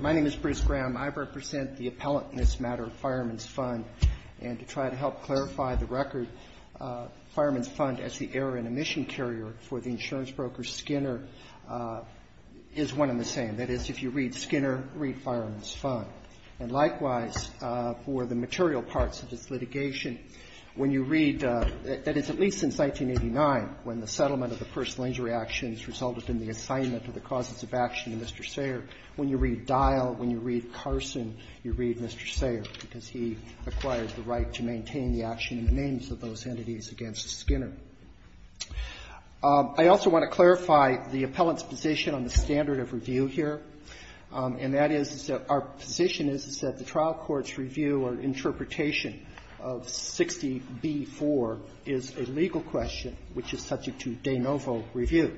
My name is Bruce Graham. I represent the appellant in this matter of Fireman's Fund, and to try to help clarify the record, Fireman's Fund as the error and emission carrier for the insurance broker Skinner is one and the same. That is, if you read Skinner, read Fireman's Fund. And likewise, for the material parts of this litigation, when you read, that is, at least since 1989, when the settlement of the personal injury actions resulted in the assignment of the causes of action to Mr. Sayre, when you read Dial, when you read Carson, you read Mr. Sayre, because he acquired the right to maintain the action in the names of those entities against Skinner. I also want to clarify the appellant's position on the standard of review here, and that is that our position is that the trial court's review or interpretation of 60b-4 is a legal question which is subject to de novo review.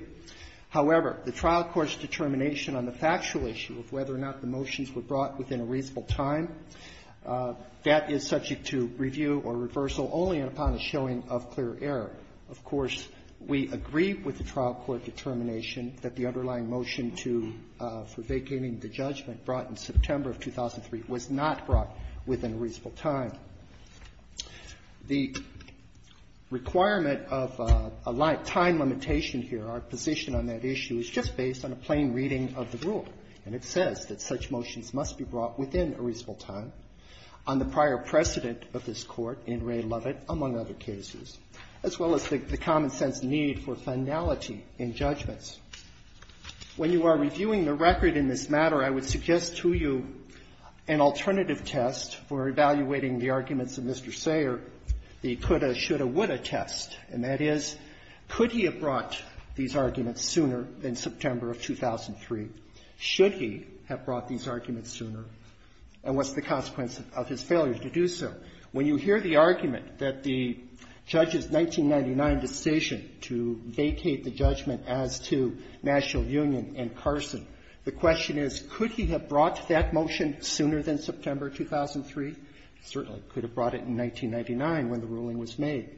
However, the trial court's determination on the factual issue of whether or not the motions were brought within a reasonable time, that is subject to review or reversal only and upon the showing of clear error. Of course, we agree with the trial court determination that the underlying motion to – for vacating the judgment brought in September of 2003 was not brought within a reasonable time. The requirement of a time limitation here, our position on that issue, is just based on a plain reading of the rule, and it says that such motions must be brought within a reasonable time on the prior precedent of this Court in Ray Lovett, among other cases, as well as the common-sense need for finality in judgments. When you are reviewing the record in this matter, I would suggest to you an alternative test for evaluating the arguments of Mr. Sayre, the could-a, should-a, would-a test, and that is, could he have brought these arguments sooner than September of 2003? Should he have brought these arguments sooner than September of 2003? And what's the consequence of his failure to do so? When you hear the argument that the judge's 1999 decision to vacate the judgment as to National Union and Carson, the question is, could he have brought that motion sooner than September 2003? He certainly could have brought it in 1999 when the ruling was made.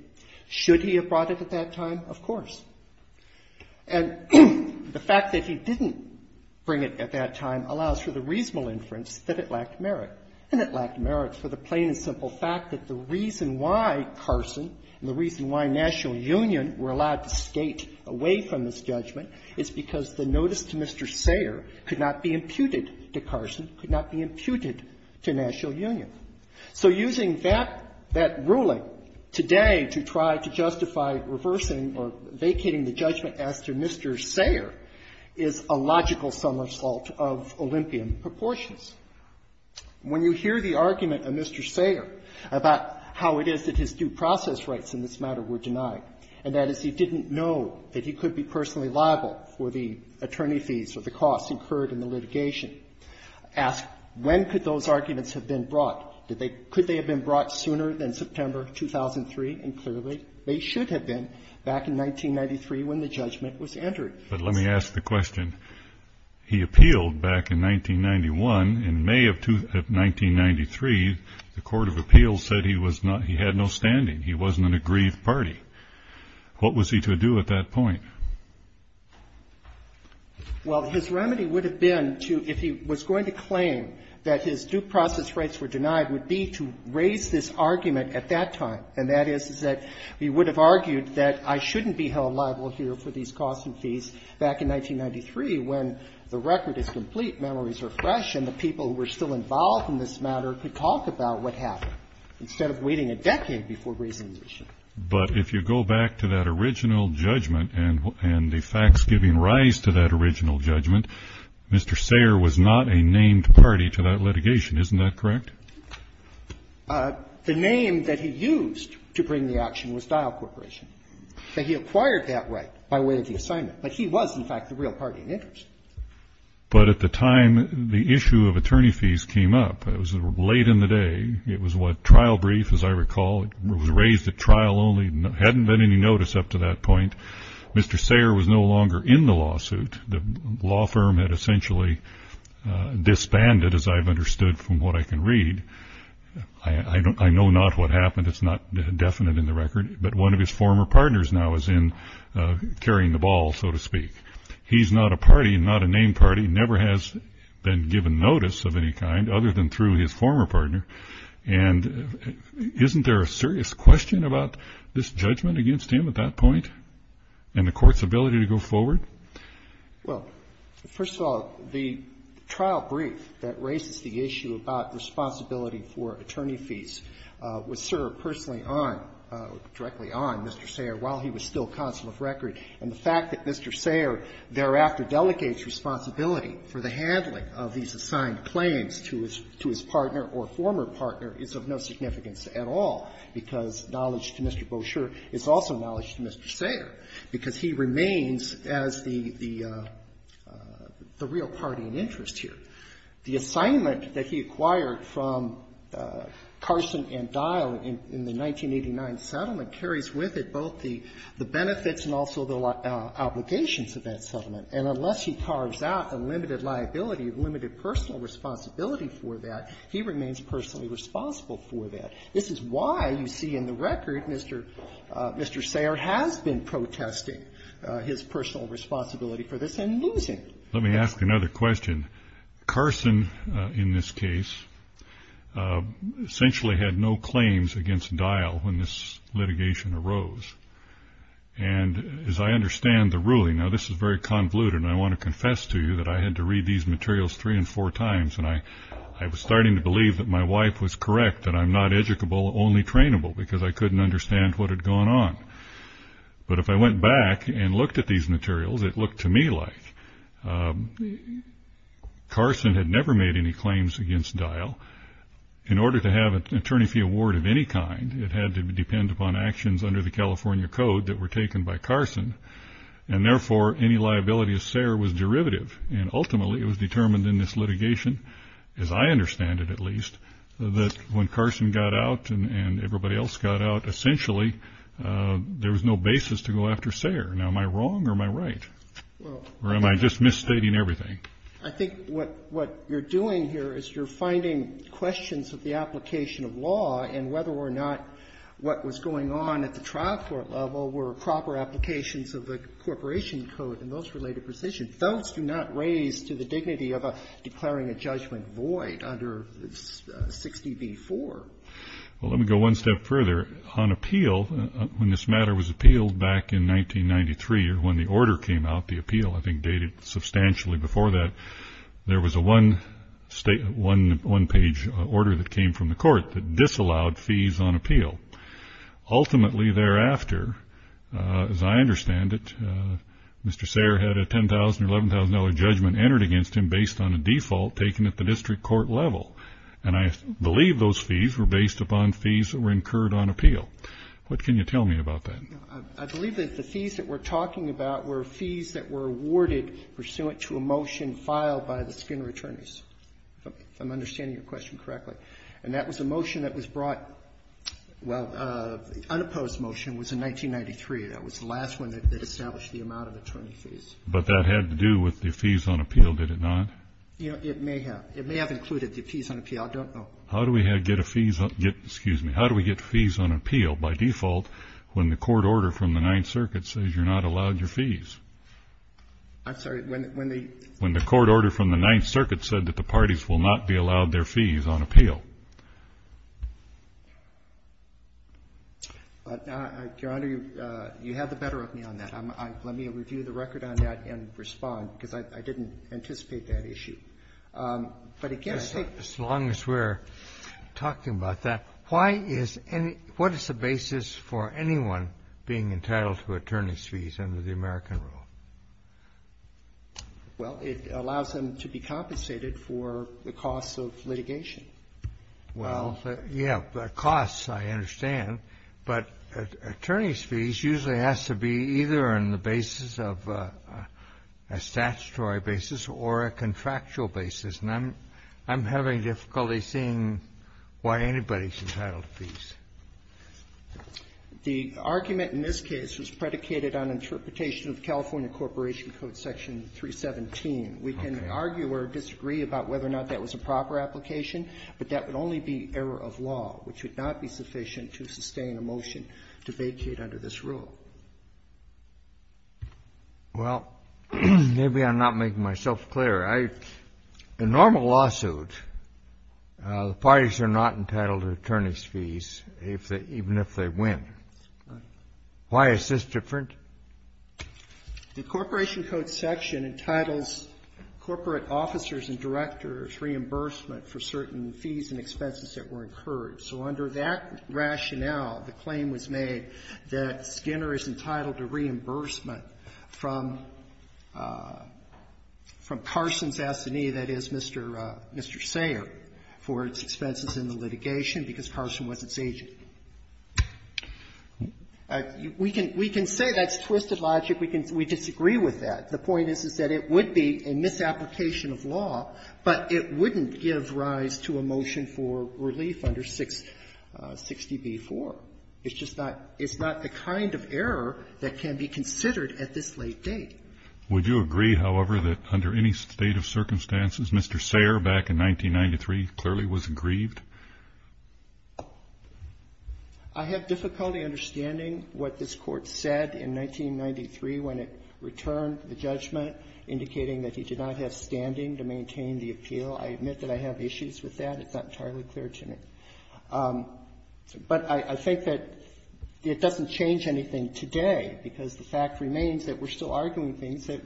Should he have brought it at that time? Of course. And the fact that he didn't bring it at that time allows for the reasonable inference that it lacked merit, and it lacked merit for the plain and simple fact that the reason why Carson and the reason why National Union were allowed to skate away from this judgment is because the notice to Mr. Sayre could not be imputed to Carson, could not be imputed to National Union. So using that ruling today to try to justify reversing or vacating the judgment as to Mr. Sayre is a logical somersault of Olympian proportions. When you hear the argument of Mr. Sayre about how it is that his due process rights in this matter were denied, and that is, he didn't know that he could be personally liable for the attorney fees or the costs incurred in the litigation, ask, when could those arguments have been brought? Could they have been brought sooner than September 2003? And clearly, they should have been back in 1993 when the judgment was entered. Kennedy. But let me ask the question. He appealed back in 1991. In May of 1993, the court of appeals said he was not he had no standing. He wasn't an aggrieved party. What was he to do at that point? Well, his remedy would have been to, if he was going to claim that his due process rights were denied, would be to raise this argument at that time, and that is, is that he would have argued that I shouldn't be held liable here for these costs and fees back in 1993 when the record is complete, memories are fresh, and the people who were still involved in this matter could talk about what happened instead of waiting a decade before raising the issue. But if you go back to that original judgment and the facts giving rise to that original judgment, Mr. Sayre was not a named party to that litigation. Isn't that correct? The name that he used to bring the action was Dial Corporation. But he acquired that right by way of the assignment. But he was, in fact, the real party in interest. But at the time the issue of attorney fees came up, it was late in the day. It was what, trial brief, as I recall. It was raised at trial only. Hadn't been any notice up to that point. Mr. Sayre was no longer in the lawsuit. The law firm had essentially disbanded, as I've understood from what I can read. I know not what happened. It's not definite in the record. But one of his former partners now is in, carrying the ball, so to speak. He's not a party, not a named party. Never has been given notice of any kind other than through his former partner. And isn't there a serious question about this judgment against him at that point and the Court's ability to go forward? Well, first of all, the trial brief that raises the issue about responsibility for attorney fees was served personally on, directly on, Mr. Sayre while he was still consul of record. And the fact that Mr. Sayre thereafter delegates responsibility for the handling of these assigned claims to his partner or former partner is of no significance at all, because knowledge to Mr. Boucher is also knowledge to Mr. Sayre, because he remains as the, the real party in interest here. The assignment that he acquired from Carson and Dial in the 1989 settlement carries with it both the benefits and also the obligations of that settlement. And unless he carves out a limited liability, a limited personal responsibility for that, he remains personally responsible for that. This is why you see in the record Mr., Mr. Sayre has been protesting his personal responsibility for this and losing. Let me ask another question. Carson, in this case, essentially had no claims against Dial when this litigation arose. And as I understand the ruling, now this is very convoluted, and I want to confess to you that I had to read these materials three and four times, and I, I was starting to believe that my wife was correct, that I'm not educable, only trainable, because I couldn't understand what had gone on. But if I went back and looked at these materials, it looked to me like, um, Carson had never made any claims against Dial. In order to have an attorney fee award of any kind, it had to depend upon actions under the California code that were taken by Carson. And therefore any liability of Sayre was derivative. And ultimately it was determined in this litigation, as I understand it at least, that when Carson got out and, and everybody else got out, essentially there was no basis to go after Sayre. Now, am I wrong or am I right, or am I just misstating everything? I think what, what you're doing here is you're finding questions of the application of law and whether or not what was going on at the trial court level were proper applications of the corporation code and those related positions. Those do not raise to the dignity of a declaring a judgment void under 60B4. Well, let me go one step further on appeal. When this matter was appealed back in 1993 or when the order came out, the appeal, I think dated substantially before that, there was a one state, one, one page order that came from the court that disallowed fees on appeal. Ultimately thereafter, as I understand it, Mr. Sayre had a $10,000 or $11,000 judgment entered against him based on a default taken at the district court level. And I believe those fees were based upon fees that were incurred on appeal. What can you tell me about that? I believe that the fees that we're talking about were fees that were awarded pursuant to a motion filed by the Skinner attorneys. I'm understanding your question correctly. And that was a motion that was brought, well, unopposed motion was in 1993. That was the last one that established the amount of attorney fees. But that had to do with the fees on appeal, did it not? Yeah, it may have. It may have included the fees on appeal. I don't know. How do we get fees on appeal? By default, when the court order from the Ninth Circuit says you're not allowed your fees. I'm sorry. When the court order from the Ninth Circuit said that the parties will not be allowed their fees on appeal. But, Your Honor, you have the better of me on that. Let me review the record on that and respond because I didn't anticipate that issue. But again, I think as long as we're talking about that, why is any, what is the basis for anyone being entitled to attorney's fees under the American rule? Well, it allows them to be compensated for the costs of litigation. Well, yeah, the costs, I understand. But attorney's fees usually has to be either on the basis of a statutory basis or a contractual basis. And I'm having difficulty seeing why anybody's entitled to fees. The argument in this case was predicated on interpretation of California Corporation Code Section 317. We can argue or disagree about whether or not that was a proper application, but that would only be error of law, which would not be sufficient to sustain a motion to vacate under this rule. Well, maybe I'm not making myself clear. I, in a normal lawsuit, the parties are not entitled to attorney's fees if they, even if they win. Why is this different? The Corporation Code Section entitles corporate officers and directors reimbursement for certain fees and expenses that were incurred. So under that rationale, the claim was made that Skinner is entitled to reimbursement from Carson's assignee, that is, Mr. Sayre, for its expenses in the litigation because Carson was its agent. We can say that's twisted logic. We disagree with that. The point is, is that it would be a misapplication of law, but it wouldn't give rise to a motion for relief under 660b-4. It's just not the kind of error that can be considered at this late date. Would you agree, however, that under any state of circumstances, Mr. Sayre back in 1993 clearly was aggrieved? I have difficulty understanding what this Court said in 1993 when it returned the judgment indicating that he did not have standing to maintain the appeal. I admit that I have issues with that. It's not entirely clear to me. But I think that it doesn't change anything today, because the fact remains that we're still arguing things that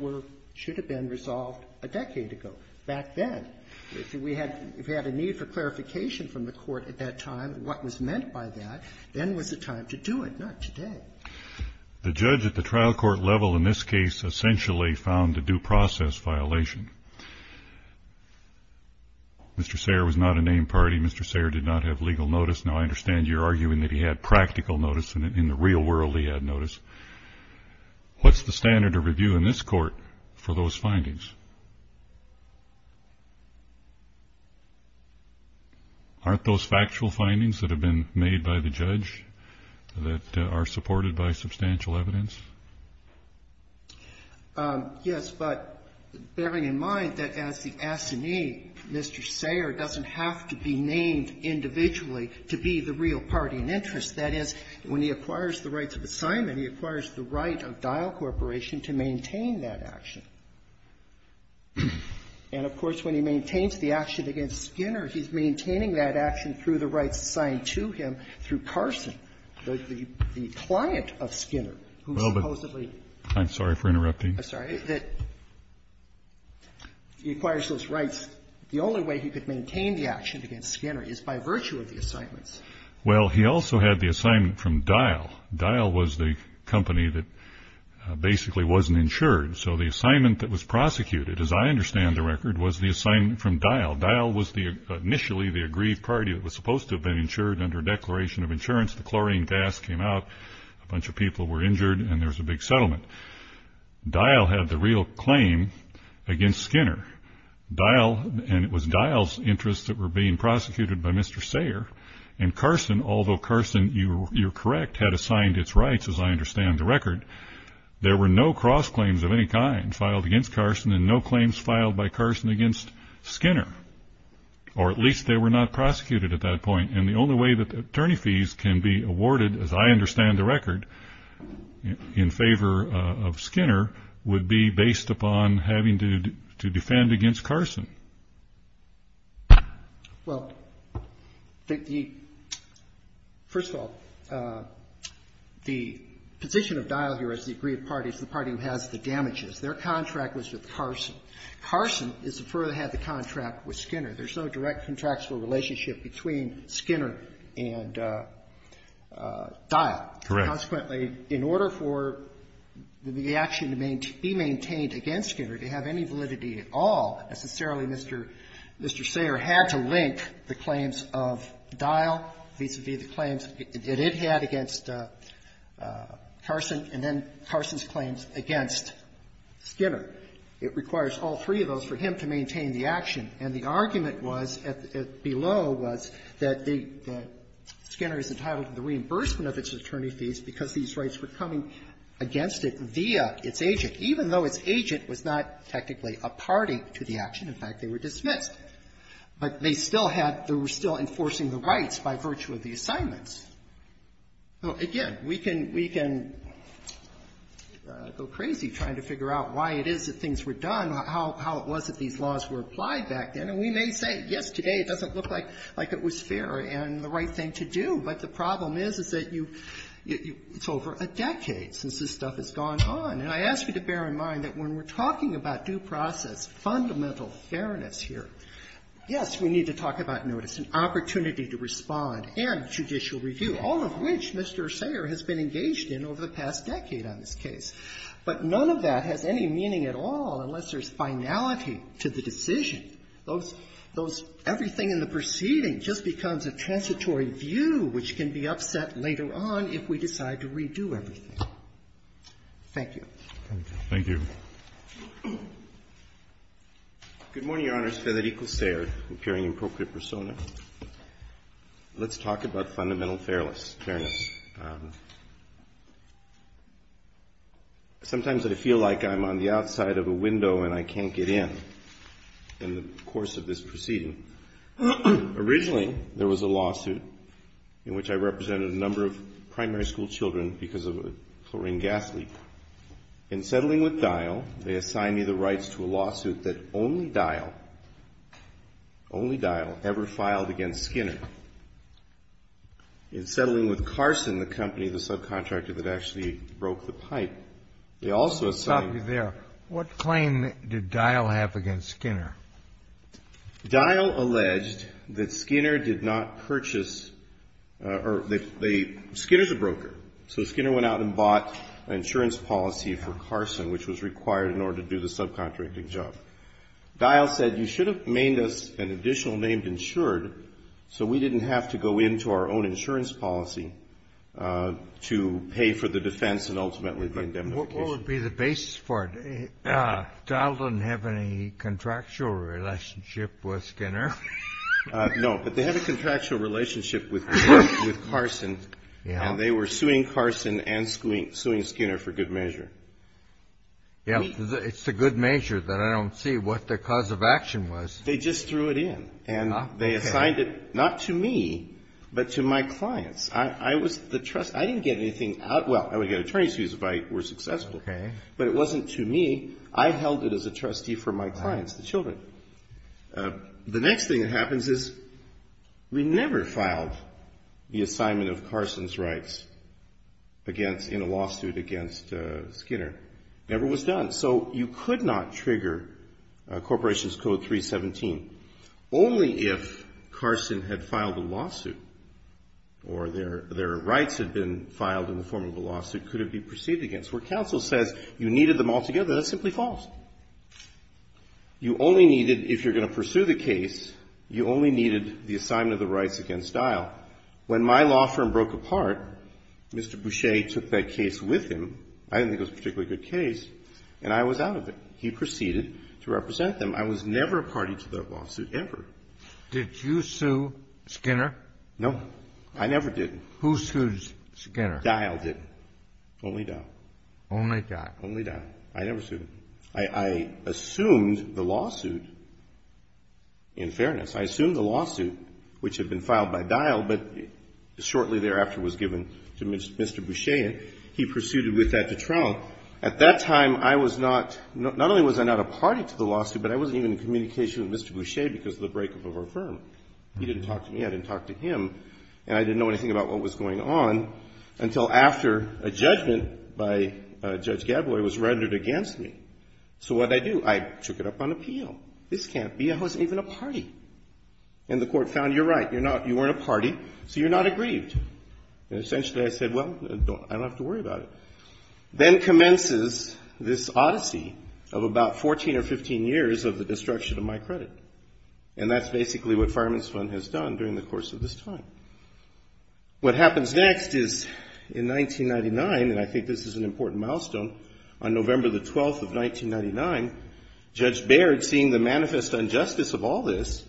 should have been resolved a decade ago, back then. If we had a need for clarification from the Court at that time, what was meant by that, then was the time to do it, not today. The judge at the trial court level in this case essentially found a due process violation. Mr. Sayre was not a named party. Mr. Sayre did not have legal notice. Now, I understand you're arguing that he had practical notice, and in the real world, he had notice. What's the standard of review in this Court for those findings? Aren't those factual findings that have been made by the judge that are supported by substantial evidence? Yes, but bearing in mind that as the assignee, Mr. Sayre doesn't have to be named individually to be the real party in interest. That is, when he acquires the rights of assignment, he acquires the right of Dyle Corporation to maintain that action. And, of course, when he maintains the action against Skinner, he's maintaining that action through the rights assigned to him through Carson, the client of Skinner. Well, but I'm sorry for interrupting. I'm sorry. He acquires those rights. The only way he could maintain the action against Skinner is by virtue of the assignments. Well, he also had the assignment from Dyle. Dyle was the company that basically wasn't insured. So the assignment that was prosecuted, as I understand the record, was the assignment from Dyle. Dyle was the initially the aggrieved party that was supposed to have been insured under a declaration of insurance. The chlorine gas came out. A bunch of people were injured, and there was a big settlement. Dyle had the real claim against Skinner. Dyle, and it was Dyle's interests that were being prosecuted by Mr. Sayre. And Carson, although Carson, you're correct, had assigned its rights, as I understand the record, there were no cross claims of any kind filed against Carson and no claims filed by Carson against Skinner. Or at least they were not prosecuted at that point. And the only way that attorney fees can be awarded, as I understand the record, in favor of Skinner, would be based upon having to defend against Carson. Well, first of all, the position of Dyle here as the aggrieved party is the party who has the damages. Their contract was with Carson. Carson is the firm that had the contract with Skinner. There's no direct contractual relationship between Skinner and Dyle. Correct. Consequently, in order for the action to be maintained against Skinner to have any validity at all, necessarily Mr. Sayre had to link the claims of Dyle vis-a-vis the claims that it had against Carson, and then Carson's claims against Skinner. It requires all three of those for him to maintain the action. And the argument was, below, was that Skinner is entitled to the reimbursement of its attorney fees because these rights were coming against it via its agent, even though its agent was not technically a party to the action. In fact, they were dismissed. But they still had the real enforcing the rights by virtue of the assignments. So, again, we can go crazy trying to figure out why it is that things were done, how it was that these laws were applied back then. And we may say, yes, today it doesn't look like it was fair and the right thing to do, but the problem is, is that you – it's over a decade since this stuff has gone on. And I ask you to bear in mind that when we're talking about due process, fundamental fairness here, yes, we need to talk about notice and opportunity to respond and judicial review, all of which Mr. Sayre has been engaged in over the past decade on this case. But none of that has any meaning at all unless there's finality to the decision. Those – everything in the proceeding just becomes a transitory view which can be upset later on if we decide to redo everything. Thank you. Thank you. Good morning, Your Honors. Federico Sayre, appearing in proprio persona. Let's talk about fundamental fairness. Sometimes I feel like I'm on the outside of a window and I can't get in in the course of this proceeding. Originally, there was a lawsuit in which I represented a number of primary school children because of a chlorine gas leak. In settling with Dial, they assigned me the rights to a lawsuit that only Dial – only Dial ever filed against Skinner. In settling with Carson, the company, the subcontractor that actually broke the pipe, they also assigned – Let me stop you there. What claim did Dial have against Skinner? Dial alleged that Skinner did not purchase – or they – Skinner's a broker. So Skinner went out and bought an insurance policy for Carson, which was required in order to do the subcontracting job. Dial said, you should have made us an additional name insured so we didn't have to go into our own insurance policy to pay for the defense and ultimately the indemnification. What would be the basis for it? Dial didn't have any contractual relationship with Skinner. No, but they had a contractual relationship with Carson. Yeah. And they were suing Carson and suing Skinner for good measure. Yeah, it's a good measure that I don't see what their cause of action was. They just threw it in. Okay. And they assigned it not to me, but to my clients. I was the trust – I didn't get anything out – well, I would get attorney's fees if I were successful. Okay. But it wasn't to me. I held it as a trustee for my clients, the children. The next thing that happens is we never filed the assignment of Carson's rights against – in a lawsuit against Skinner. It never was done. So you could not trigger Corporations Code 317. Only if Carson had filed a lawsuit or their rights had been filed in the form of a lawsuit could it be perceived against. Where counsel says you needed them all together, that's simply false. You only needed – if you're going to pursue the case, you only needed the assignment of the rights against Dial. Now, when my law firm broke apart, Mr. Boucher took that case with him. I didn't think it was a particularly good case, and I was out of it. He proceeded to represent them. I was never a party to that lawsuit, ever. Did you sue Skinner? No. I never did. Who sued Skinner? Dial did. Only Dial. Only Dial. Only Dial. I never sued him. I assumed the lawsuit, in fairness. I assumed the lawsuit, which had been filed by Dial, but shortly thereafter was given to Mr. Boucher, and he pursued it with that to trial. At that time, I was not – not only was I not a party to the lawsuit, but I wasn't even in communication with Mr. Boucher because of the breakup of our firm. He didn't talk to me. I didn't talk to him. And I didn't know anything about what was going on until after a judgment by Judge Gabboy was rendered against me. So what did I do? I took it up on appeal. This can't be. I wasn't even a party. And the court found, you're right, you're not – you weren't a party, so you're not aggrieved. And essentially I said, well, I don't have to worry about it. Then commences this odyssey of about 14 or 15 years of the destruction of my credit. And that's basically what Fireman's Fund has done during the course of this time. What happens next is in 1999, and I think this is an important milestone, on November the 12th of 1999, Judge Baird, seeing the manifest injustice of all this,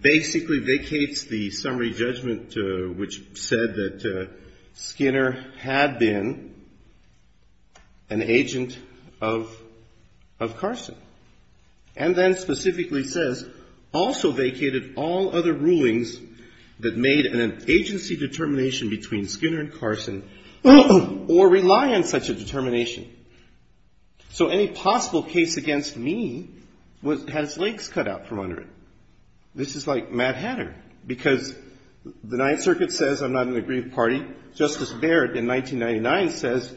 basically vacates the summary judgment which said that Skinner had been an agent of Carson. And then specifically says, also vacated all other rulings that made an agency determination between Skinner and Carson or rely on such a determination. So any possible case against me had its legs cut out from under it. This is like Mad Hatter, because the Ninth Circuit says I'm not an aggrieved party. Justice Baird in 1999 says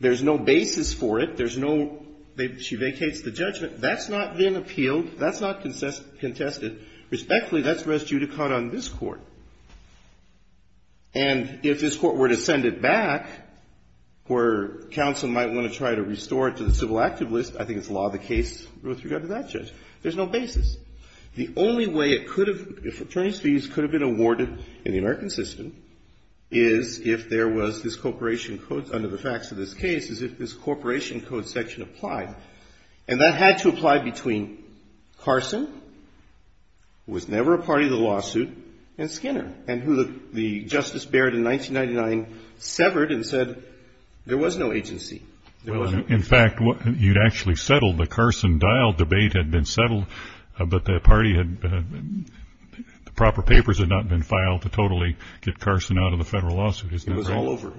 there's no basis for it. There's no – she vacates the judgment. That's not been appealed. That's not contested. Respectfully, that's res judicata on this court. And if this court were to send it back, where counsel might want to try to restore it to the civil active list, I think it's law of the case with regard to that judge. There's no basis. The only way it could have – if attorney's fees could have been awarded in the American system, is if there was this corporation code under the facts of this case, is if this corporation code section applied. And that had to apply between Carson, who was never a party to the lawsuit, and Skinner, and who the Justice Baird in 1999 severed and said there was no agency. In fact, you'd actually settled the Carson-Dial debate had been settled, but the party had – the proper papers had not been filed to totally get Carson out of the federal lawsuit. It was all over.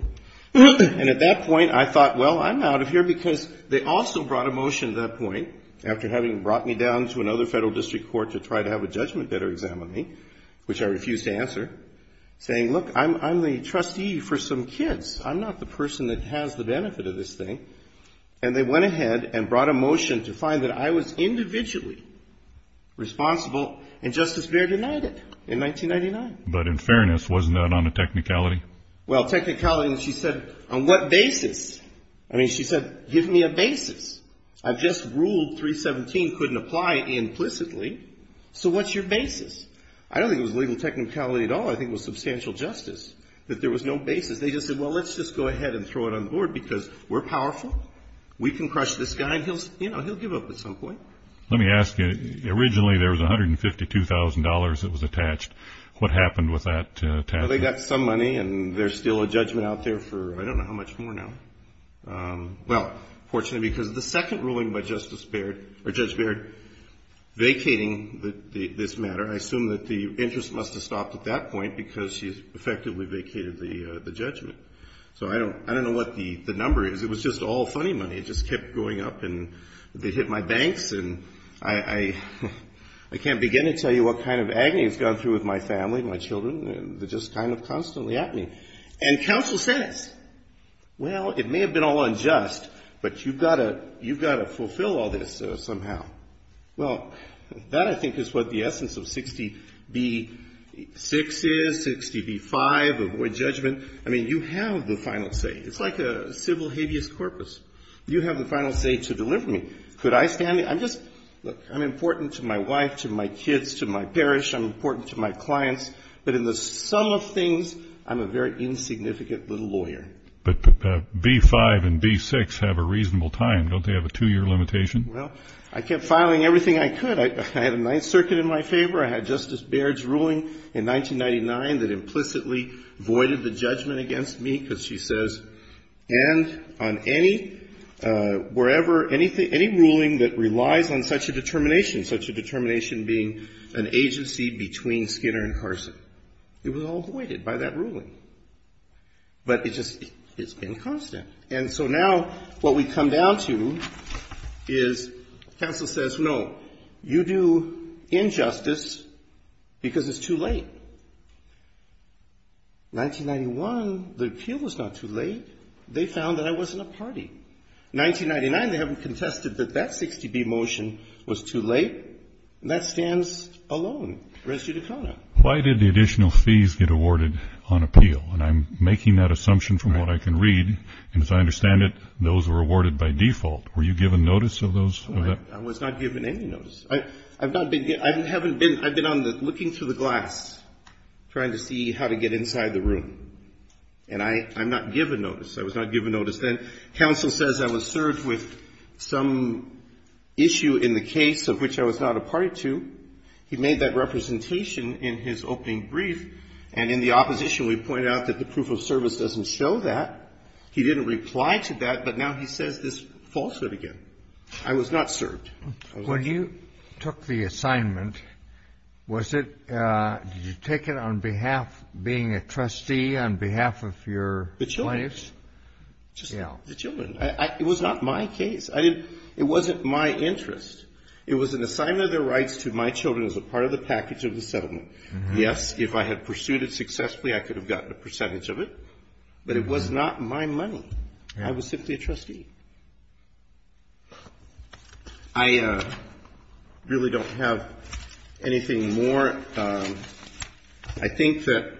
And at that point, I thought, well, I'm out of here, because they also brought a motion at that point, after having brought me down to another federal district court to try to have a judgment better examined me, which I refused to answer, saying, look, I'm the trustee for some kids. I'm not the person that has the benefit of this thing. And they went ahead and brought a motion to find that I was individually responsible, and Justice Baird denied it in 1999. But in fairness, wasn't that on a technicality? Well, technicality, and she said, on what basis? I mean, she said, give me a basis. I've just ruled 317 couldn't apply implicitly. So what's your basis? I don't think it was legal technicality at all. I think it was substantial justice that there was no basis. They just said, well, let's just go ahead and throw it on the board, because we're powerful. We can crush this guy, and he'll give up at some point. Let me ask you, originally there was $152,000 that was attached. What happened with that? Well, they got some money, and there's still a judgment out there for I don't know how much more now. Well, fortunately, because of the second ruling by Justice Baird, or Judge Baird vacating this matter, I assume that the interest must have stopped at that point, because she's effectively vacated the judgment. So I don't know what the number is. It was just all funny money. It just kept going up, and they hit my banks, and I can't begin to tell you what kind of agony it's gone through with my family, my children, and they're just kind of constantly at me. And counsel says, well, it may have been all unjust, but you've got to fulfill all this somehow. Well, that, I think, is what the essence of 60B-6 is, 60B-5, avoid judgment. I mean, you have the final say. It's like a civil habeas corpus. You have the final say to deliver me. Could I stand it? Look, I'm important to my wife, to my kids, to my parish. I'm important to my clients. But in the sum of things, I'm a very insignificant little lawyer. But B-5 and B-6 have a reasonable time. Don't they have a two-year limitation? Well, I kept filing everything I could. I had a Ninth Circuit in my favor. I had Justice Baird's ruling in 1999 that implicitly voided the judgment against me, because she says, and on any ruling that relies on such a determination, such a determination being an agency between Skinner and Carson. It was all voided by that ruling. But it's been constant. And so now what we've come down to is counsel says, no, you do injustice. Because it's too late. 1991, the appeal was not too late. They found that I wasn't a party. 1999, they haven't contested that that 60B motion was too late. And that stands alone. Res judicata. Why did the additional fees get awarded on appeal? And I'm making that assumption from what I can read. And as I understand it, those were awarded by default. Were you given notice of those? I was not given any notice. I've not been, I haven't been, I've been on the, looking through the glass, trying to see how to get inside the room. And I'm not given notice. I was not given notice. Then counsel says I was served with some issue in the case of which I was not a party to. He made that representation in his opening brief. And in the opposition, we pointed out that the proof of service doesn't show that. He didn't reply to that. But now he says this falsehood again. I was not served. When you took the assignment, was it, did you take it on behalf, being a trustee, on behalf of your clients? The children. Yeah. The children. It was not my case. I didn't, it wasn't my interest. It was an assignment of their rights to my children as a part of the package of the settlement. Yes, if I had pursued it successfully, I could have gotten a percentage of it. But it was not my money. I was simply a trustee. I really don't have anything more. I think that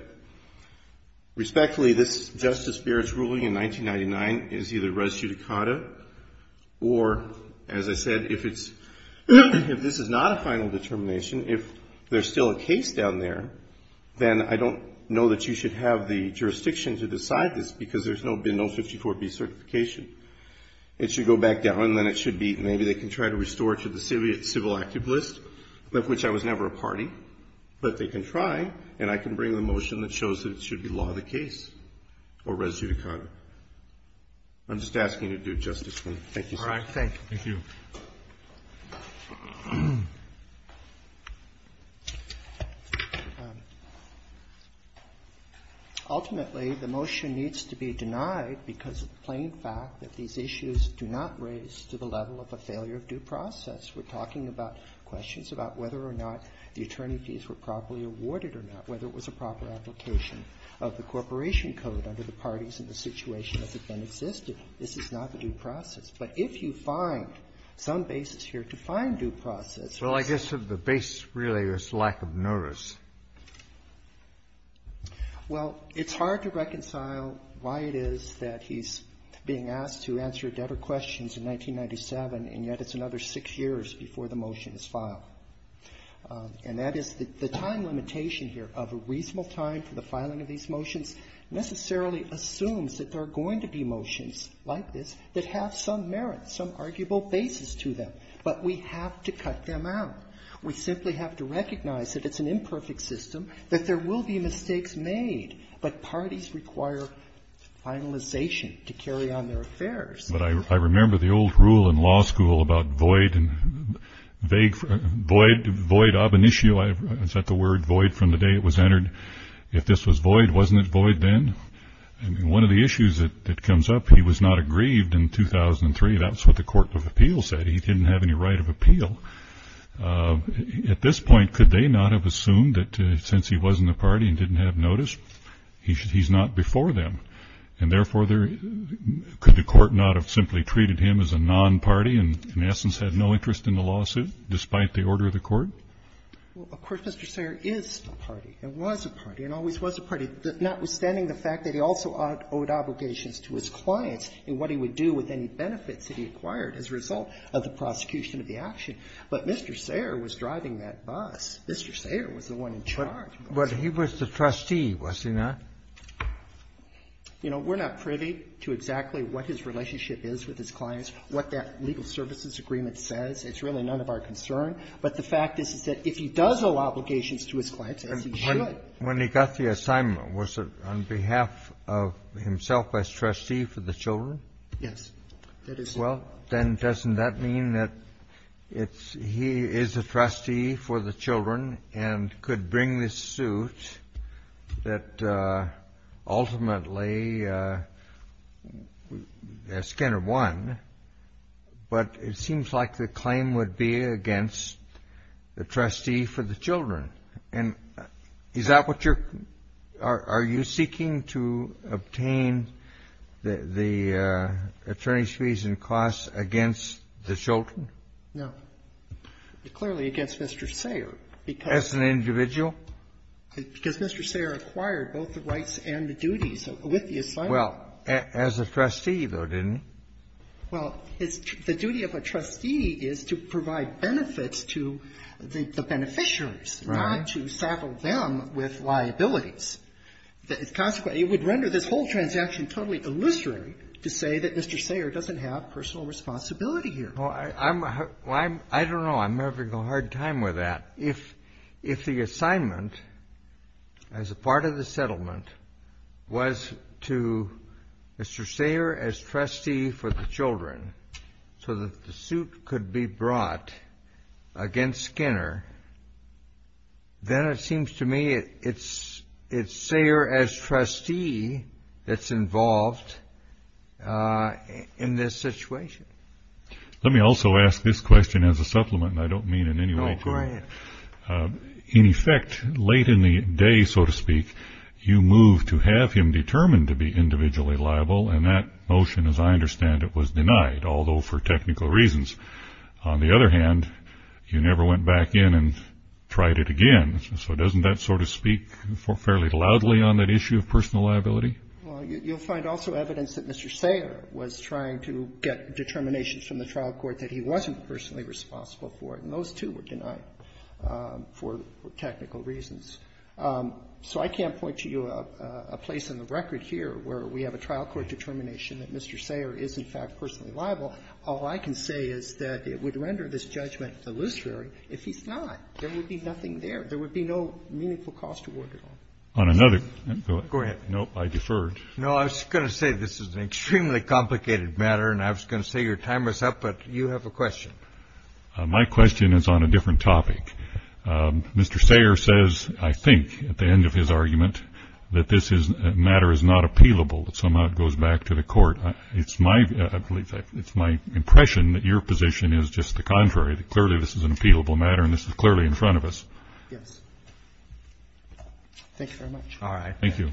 respectfully, this Justice Barrett's ruling in 1999 is either res judicata or, as I said, if it's, if this is not a final determination, if there's still a case down there, then I don't know that you should have the jurisdiction to decide this, because there's no BIN 054B certification. It should go back down, and then it should be, maybe they can try to restore it to the civil active list, of which I was never a party. But they can try, and I can bring the motion that shows that it should be law of the case or res judicata. I'm just asking you to do it justicefully. Thank you, sir. All right. Thank you. Thank you. Ultimately, the motion needs to be denied because of the plain fact that these issues do not raise to the level of a failure of due process. We're talking about questions about whether or not the attorney fees were properly awarded or not, whether it was a proper application of the corporation code under the parties in the situation that had been existed. This is not the due process. But if you find some basis here to find due process. Well, I guess the base really is lack of notice. Well, it's hard to reconcile why it is that he's being asked to answer Debra questions in 1997, and yet it's another six years before the motion is filed. And that is the time limitation here of a reasonable time for the filing of these motions necessarily assumes that there are going to be motions like this that have some merit, some arguable basis to them. But we have to cut them out. We simply have to recognize that it's an imperfect system, that there will be mistakes made, but parties require finalization to carry on their affairs. But I remember the old rule in law school about void and vague void, void ab initio. Is that the word? Void from the day it was entered? If this was void, wasn't it void then? I mean, one of the issues that comes up, he was not aggrieved in 2003. That's what the Court of Appeal said. He didn't have any right of appeal. At this point, could they not have assumed that since he wasn't a party and didn't have notice, he's not before them? And therefore, there — could the Court not have simply treated him as a non-party and in essence had no interest in the lawsuit despite the order of the Court? Well, of course, Mr. Sayre is a party and was a party and always was a party, notwithstanding the fact that he also owed obligations to his clients in what he would do with any benefits that he acquired as a result of the prosecution of the action. But Mr. Sayre was driving that bus. Mr. Sayre was the one in charge. But he was the trustee, was he not? You know, we're not privy to exactly what his relationship is with his clients, what that legal services agreement says. It's really none of our concern. But the fact is, is that if he does owe obligations to his clients, as he should When he got the assignment, was it on behalf of himself as trustee for the children? Yes, that is so. Well, then doesn't that mean that it's — he is a trustee for the children and could bring this suit that ultimately Skinner won, but it seems like the claim would be against the trustee for the children. And is that what you're — are you seeking to obtain the attorney's fees and costs against the children? No. Clearly against Mr. Sayre, because — As an individual? Because Mr. Sayre acquired both the rights and the duties with the assignment. Well, as a trustee, though, didn't he? Well, the duty of a trustee is to provide benefits to the beneficiaries. Right. Not to saddle them with liabilities. Consequently, it would render this whole transaction totally illusory to say that Mr. Sayre doesn't have personal responsibility here. Well, I'm — I don't know. I'm having a hard time with that. If the assignment as a part of the settlement was to Mr. Sayre as trustee for the children so that the suit could be brought against Skinner, then it seems to me it's — it's Sayre as trustee that's involved in this situation. Let me also ask this question as a supplement, and I don't mean in any way to — No, go ahead. In effect, late in the day, so to speak, you moved to have him determined to be individually liable, and that motion, as I understand it, was denied, although for technical reasons. On the other hand, you never went back in and tried it again. So doesn't that sort of speak fairly loudly on that issue of personal liability? Well, you'll find also evidence that Mr. Sayre was trying to get determinations from the trial court that he wasn't personally responsible for, and those, too, were denied for technical reasons. So I can't point to you a place in the record here where we have a trial court determination that Mr. Sayre is, in fact, personally liable. All I can say is that it would render this judgment illusory if he's not. There would be nothing there. There would be no meaningful cost toward it all. On another — Go ahead. No, I deferred. No, I was going to say this is an extremely complicated matter, and I was going to say your time was up, but you have a question. My question is on a different topic. Mr. Sayre says, I think, at the end of his argument, that this matter is not appealable, that somehow it goes back to the court. It's my impression that your position is just the contrary, that clearly this is an appealable matter and this is clearly in front of us. Yes. Thank you very much. All right. Thank you.